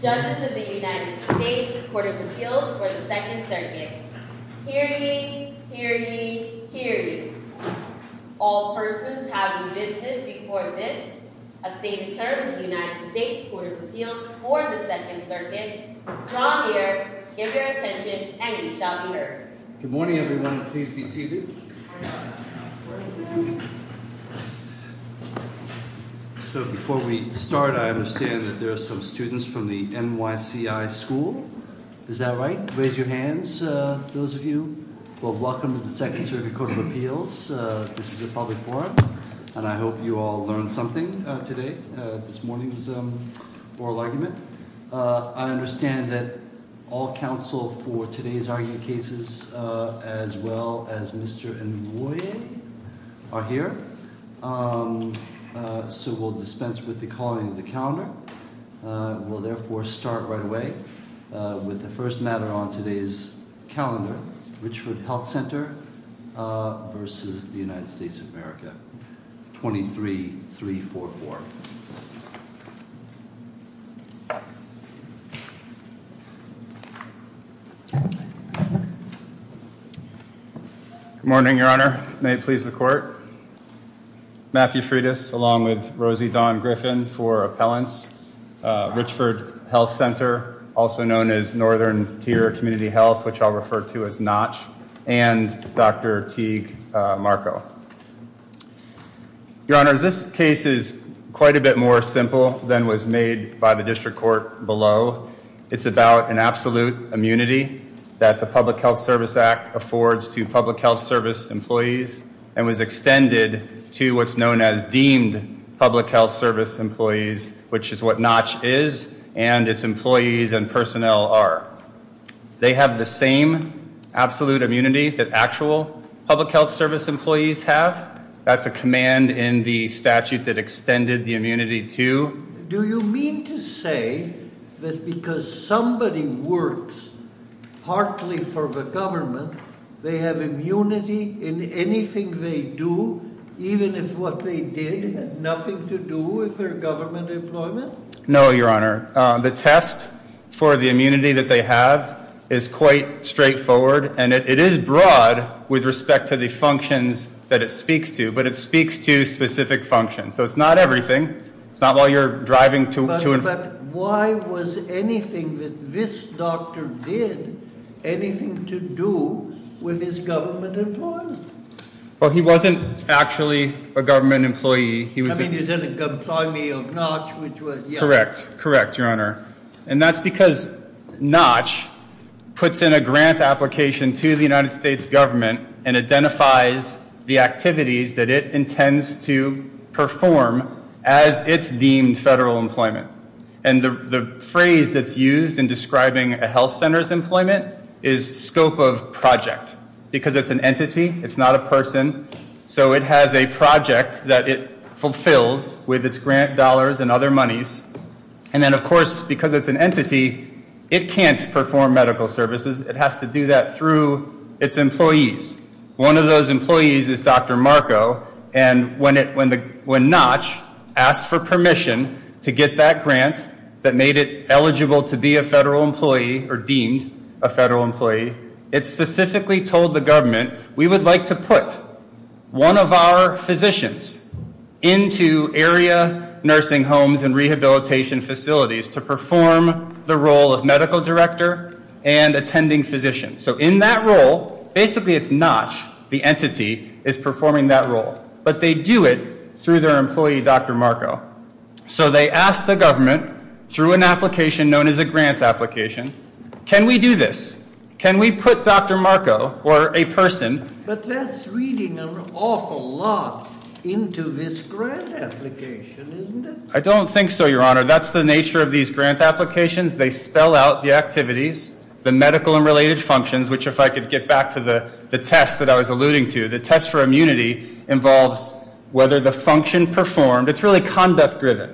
Judges of the United States Court of Appeals for the 2nd Circuit. Hear ye, hear ye, hear ye. All persons having business before this, a stated term in the United States Court of Appeals for the 2nd Circuit, draw near, give your attention, and ye shall be heard. Good morning everyone, please be seated. So before we start, I understand that there are some students from the NYCI school. Is that right? Raise your hands, those of you. Well, welcome to the 2nd Circuit Court of Appeals. This is a public forum, and I hope you all learned something today, this morning's oral argument. I understand that all counsel for today's argument cases, as well as Mr. Inouye are here, so we'll dispense with the calling of the calendar. We'll therefore start right away with the first matter on today's calendar, Richford Health Center v. United States of America, 23-344. Good morning, Your Honor. May it please the Court. Matthew Freitas, along with Rosie Dawn Griffin for appellants, Richford Health Center, also known as Northern Tier Community Health, which I'll refer to as NOTCH, and Dr. Teague Marco. Your Honor, this case is quite a bit more simple than was made by the District Court below. It's about an absolute immunity that the Public Health Service Act affords to public health service employees, and was extended to what's known as deemed public health service employees, which is what NOTCH is, and its employees and personnel are. They have the same absolute immunity that actual public health service employees have. That's a command in the statute that extended the immunity to. Do you mean to say that because somebody works partly for the government, they have immunity in anything they do, even if what they did had nothing to do with their government employment? No, Your Honor. The test for the immunity that they have is quite straightforward, and it is broad with respect to the functions that it speaks to, but it speaks to specific functions. So it's not everything. It's not what you're driving to. But why was anything that this doctor did anything to do with his government employment? Well, he wasn't actually a government employee. I mean, he was an employee of NOTCH, which was, yeah. Correct. Correct, Your Honor. And that's because NOTCH puts in a grant application to the United States government and identifies the activities that it intends to perform as it's deemed federal employment. And the phrase that's used in describing a health center's employment is scope of project, because it's an entity. It's not a person. So it has a project that it fulfills with its grant dollars and other monies. And then, of course, because it's an entity, it can't perform medical services. It has to do that through its employees. One of those employees is Dr. Marco, and when NOTCH asked for permission to get that grant that made it eligible to be a federal employee or deemed a federal employee, it specifically told the government, we would like to put one of our physicians into area nursing homes and rehabilitation facilities to perform the role of medical director and attending physician. So in that role, basically it's NOTCH, the entity, is performing that role. But they do it through their employee, Dr. Marco. So they asked the government through an application known as a grant application, can we do this? Can we put Dr. Marco or a person? But that's reading an awful lot into this grant application, isn't it? I don't think so, Your Honor. That's the nature of these grant applications. They spell out the activities, the medical and related functions, which if I could get back to the test that I was alluding to, the test for immunity involves whether the function performed, it's really conduct-driven,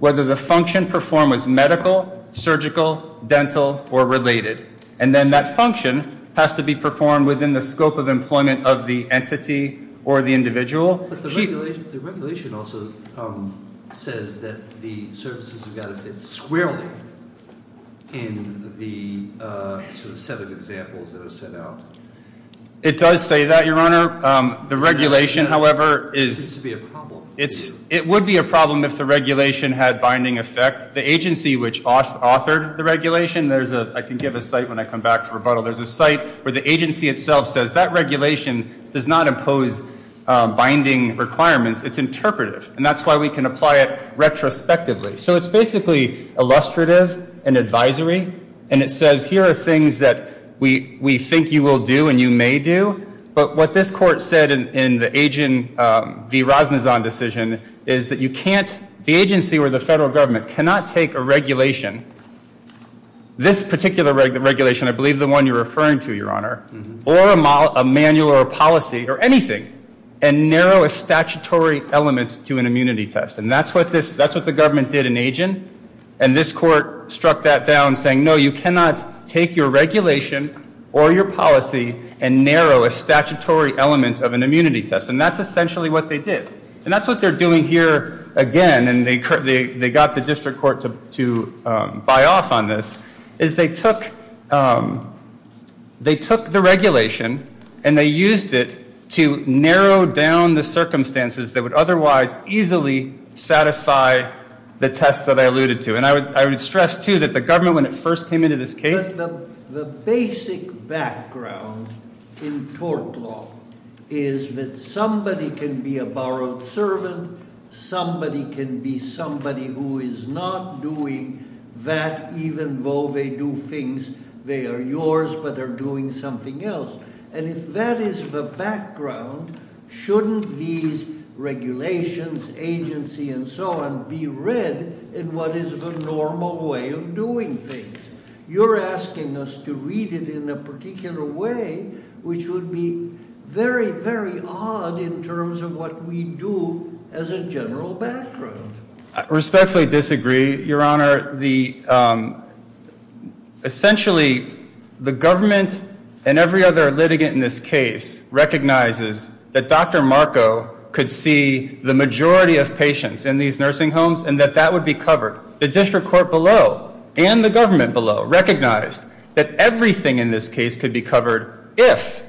whether the function performed was medical, surgical, dental, or related. And then that function has to be performed within the scope of employment of the entity or the individual. But the regulation also says that the services have got to fit squarely in the set of examples that are set out. It does say that, Your Honor. The regulation, however, is- It would be a problem. It would be a problem if the regulation had binding effect. The agency which authored the regulation, I can give a site when I come back for rebuttal, there's a site where the agency itself says that regulation does not impose binding requirements. It's interpretive. And that's why we can apply it retrospectively. So it's basically illustrative and advisory. And it says here are things that we think you will do and you may do. But what this court said in the agent v. Rasmusson decision is that you can't- the agency or the federal government cannot take a regulation, this particular regulation, I believe the one you're referring to, Your Honor, or a manual or a policy or anything and narrow a statutory element to an immunity test. And that's what the government did in agent. And this court struck that down saying, no, you cannot take your regulation or your policy and narrow a statutory element of an immunity test. And that's essentially what they did. And that's what they're doing here again. And they got the district court to buy off on this, is they took the regulation and they used it to narrow down the circumstances that would otherwise easily satisfy the test that I alluded to. And I would stress, too, that the government, when it first came into this case- who is not doing that, even though they do things, they are yours, but they're doing something else. And if that is the background, shouldn't these regulations, agency, and so on, be read in what is the normal way of doing things? You're asking us to read it in a particular way, which would be very, very odd in terms of what we do as a general background. I respectfully disagree, Your Honor. Essentially, the government and every other litigant in this case recognizes that Dr. Marco could see the majority of patients in these nursing homes and that that would be covered. The district court below and the government below recognized that everything in this case could be covered if-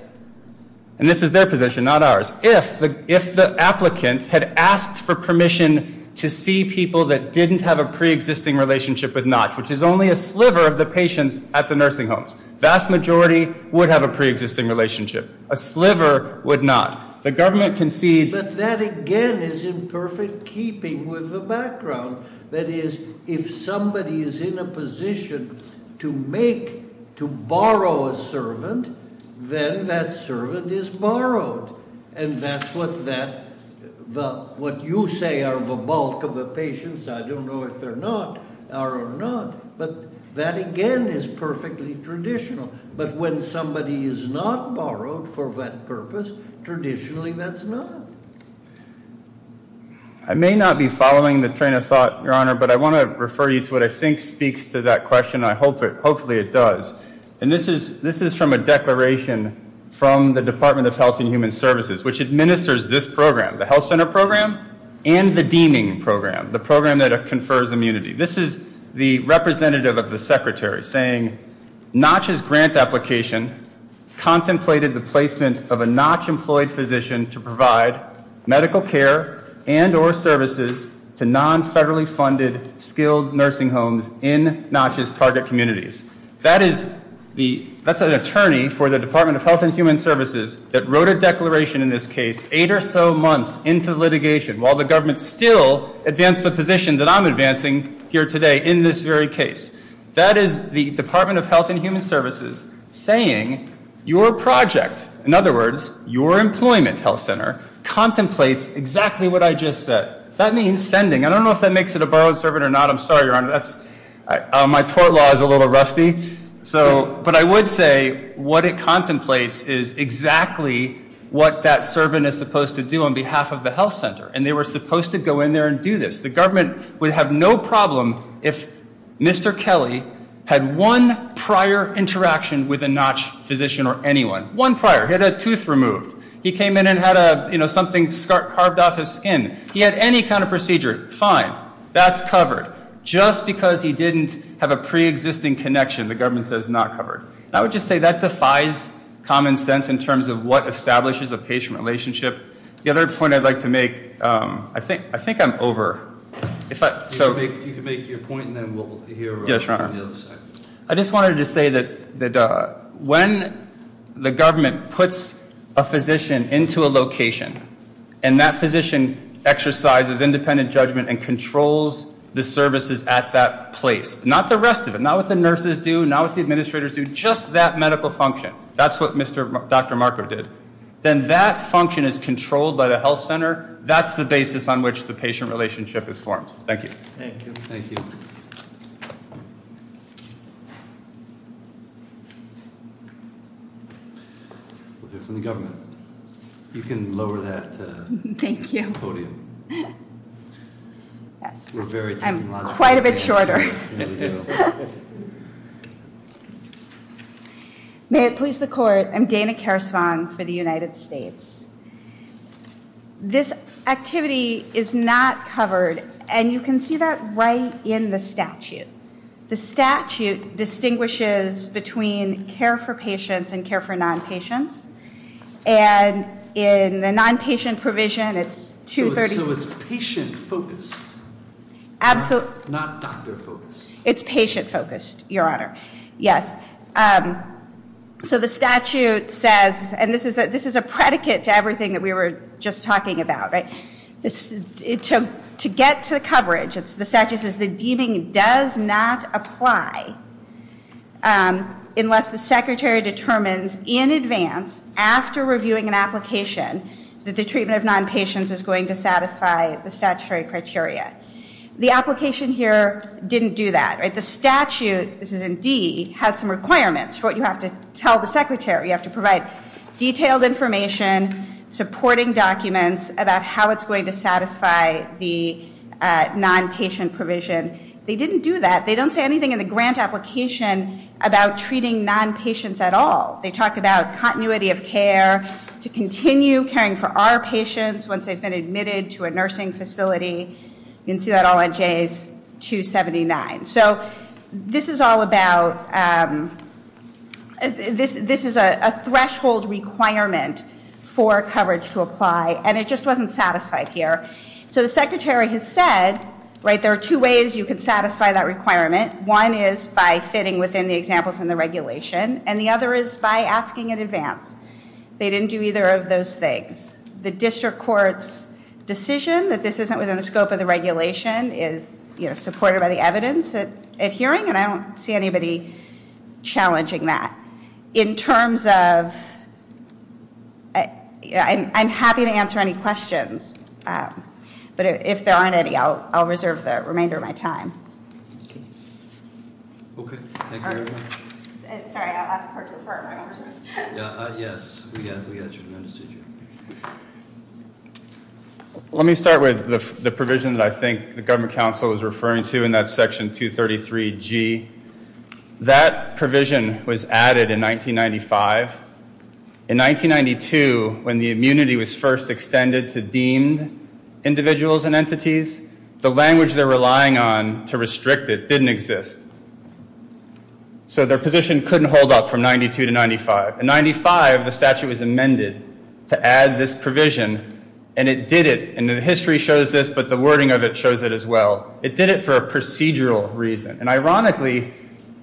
and this is their position, not ours- if the applicant had asked for permission to see people that didn't have a pre-existing relationship but not, which is only a sliver of the patients at the nursing homes. The vast majority would have a pre-existing relationship. A sliver would not. The government concedes- But that, again, is in perfect keeping with the background. That is, if somebody is in a position to make, to borrow a servant, then that servant is borrowed. And that's what that- what you say are the bulk of the patients. I don't know if they're not, are or not. But that, again, is perfectly traditional. But when somebody is not borrowed for that purpose, traditionally that's not. I may not be following the train of thought, Your Honor, but I want to refer you to what I think speaks to that question. I hope it- hopefully it does. And this is from a declaration from the Department of Health and Human Services, which administers this program, the health center program and the deeming program, the program that confers immunity. This is the representative of the secretary saying, Notch's grant application contemplated the placement of a Notch-employed physician to provide medical care and or services to non-federally funded, skilled nursing homes in Notch's target communities. That is the- that's an attorney for the Department of Health and Human Services that wrote a declaration in this case eight or so months into litigation while the government still advanced the position that I'm advancing here today in this very case. That is the Department of Health and Human Services saying your project, in other words, your employment health center, contemplates exactly what I just said. That means sending. I don't know if that makes it a borrowed servant or not. I'm sorry, Your Honor. That's- my tort law is a little rusty. So- but I would say what it contemplates is exactly what that servant is supposed to do on behalf of the health center. And they were supposed to go in there and do this. The government would have no problem if Mr. Kelly had one prior interaction with a Notch physician or anyone. One prior. He had a tooth removed. He came in and had a, you know, something carved off his skin. He had any kind of procedure. Fine. That's covered. Just because he didn't have a preexisting connection, the government says not covered. And I would just say that defies common sense in terms of what establishes a patient relationship. The other point I'd like to make- I think I'm over. If I- so- You can make your point and then we'll hear from the other side. Yes, Your Honor. I just wanted to say that when the government puts a physician into a location and that physician exercises independent judgment and controls the services at that place, not the rest of it, not what the nurses do, not what the administrators do, just that medical function. That's what Dr. Marker did. Then that function is controlled by the health center. That's the basis on which the patient relationship is formed. Thank you. Thank you. We'll hear from the government. You can lower that podium. Thank you. I'm quite a bit shorter. May it please the Court. I'm Dana Karasvong for the United States. This activity is not covered, and you can see that right in the statute. The statute distinguishes between care for patients and care for non-patients. And in the non-patient provision, it's 230- So it's patient-focused, not doctor-focused. It's patient-focused, Your Honor. Yes. So the statute says, and this is a predicate to everything that we were just talking about, to get to the coverage, the statute says, the deeming does not apply unless the secretary determines in advance, after reviewing an application, that the treatment of non-patients is going to satisfy the statutory criteria. The application here didn't do that. The statute, this is in D, has some requirements for what you have to tell the secretary. You have to provide detailed information, supporting documents, about how it's going to satisfy the non-patient provision. They didn't do that. They don't say anything in the grant application about treating non-patients at all. They talk about continuity of care, to continue caring for our patients once they've been admitted to a nursing facility. You can see that all on J's 279. So this is all about, this is a threshold requirement for coverage to apply, and it just wasn't satisfied here. So the secretary has said, right, there are two ways you can satisfy that requirement. One is by fitting within the examples in the regulation, and the other is by asking in advance. They didn't do either of those things. The district court's decision that this isn't within the scope of the regulation is supported by the evidence at hearing, and I don't see anybody challenging that. In terms of, I'm happy to answer any questions. But if there aren't any, I'll reserve the remainder of my time. Okay, thank you very much. Sorry, I'll ask the clerk to affirm. Yes, we got you. Let me start with the provision that I think the government council was referring to, and that's Section 233G. That provision was added in 1995. In 1992, when the immunity was first extended to deemed individuals and entities, the language they're relying on to restrict it didn't exist. So their position couldn't hold up from 1992 to 1995. In 1995, the statute was amended to add this provision, and it did it. And the history shows this, but the wording of it shows it as well. It did it for a procedural reason. And ironically,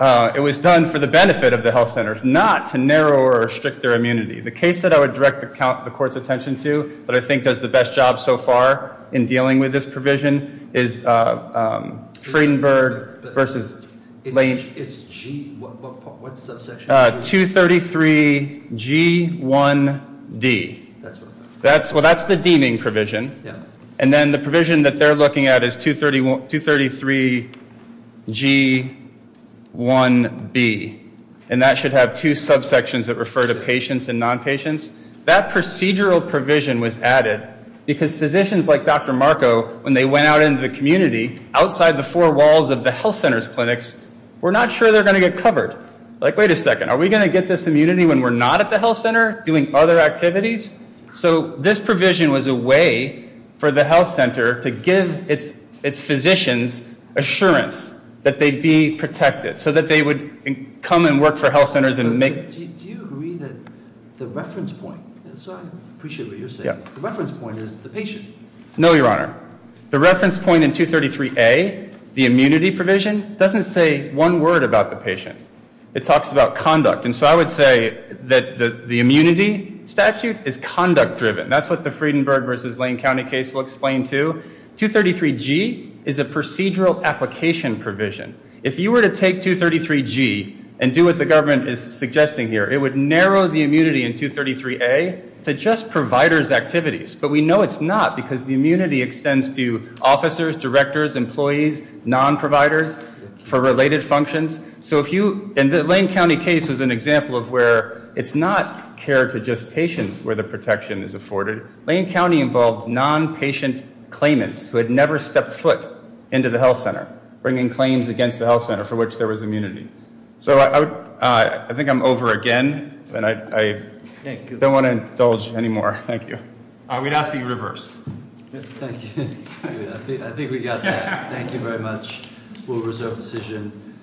it was done for the benefit of the health centers, not to narrow or restrict their immunity. The case that I would direct the court's attention to, that I think does the best job so far in dealing with this provision, is Friedenberg versus Lane. It's G. What subsection? 233G1D. Well, that's the deeming provision. And then the provision that they're looking at is 233G1B, and that should have two subsections that refer to patients and non-patients. That procedural provision was added because physicians like Dr. Marco, when they went out into the community, outside the four walls of the health center's clinics, were not sure they were going to get covered. Like, wait a second. Are we going to get this immunity when we're not at the health center doing other activities? So this provision was a way for the health center to give its physicians assurance that they'd be protected so that they would come and work for health centers and make – Do you agree that the reference point – so I appreciate what you're saying. The reference point is the patient. No, Your Honor. The reference point in 233A, the immunity provision, doesn't say one word about the patient. It talks about conduct. And so I would say that the immunity statute is conduct-driven. That's what the Friedenberg versus Lane County case will explain to. 233G is a procedural application provision. If you were to take 233G and do what the government is suggesting here, it would narrow the immunity in 233A to just providers' activities. But we know it's not because the immunity extends to officers, directors, employees, non-providers for related functions. So if you – and the Lane County case was an example of where it's not care to just patients where the protection is afforded. Lane County involved non-patient claimants who had never stepped foot into the health center, bringing claims against the health center for which there was immunity. So I think I'm over again, and I don't want to indulge anymore. Thank you. We'd ask that you reverse. Thank you. I think we got that. Thank you very much. We'll reserve the decision.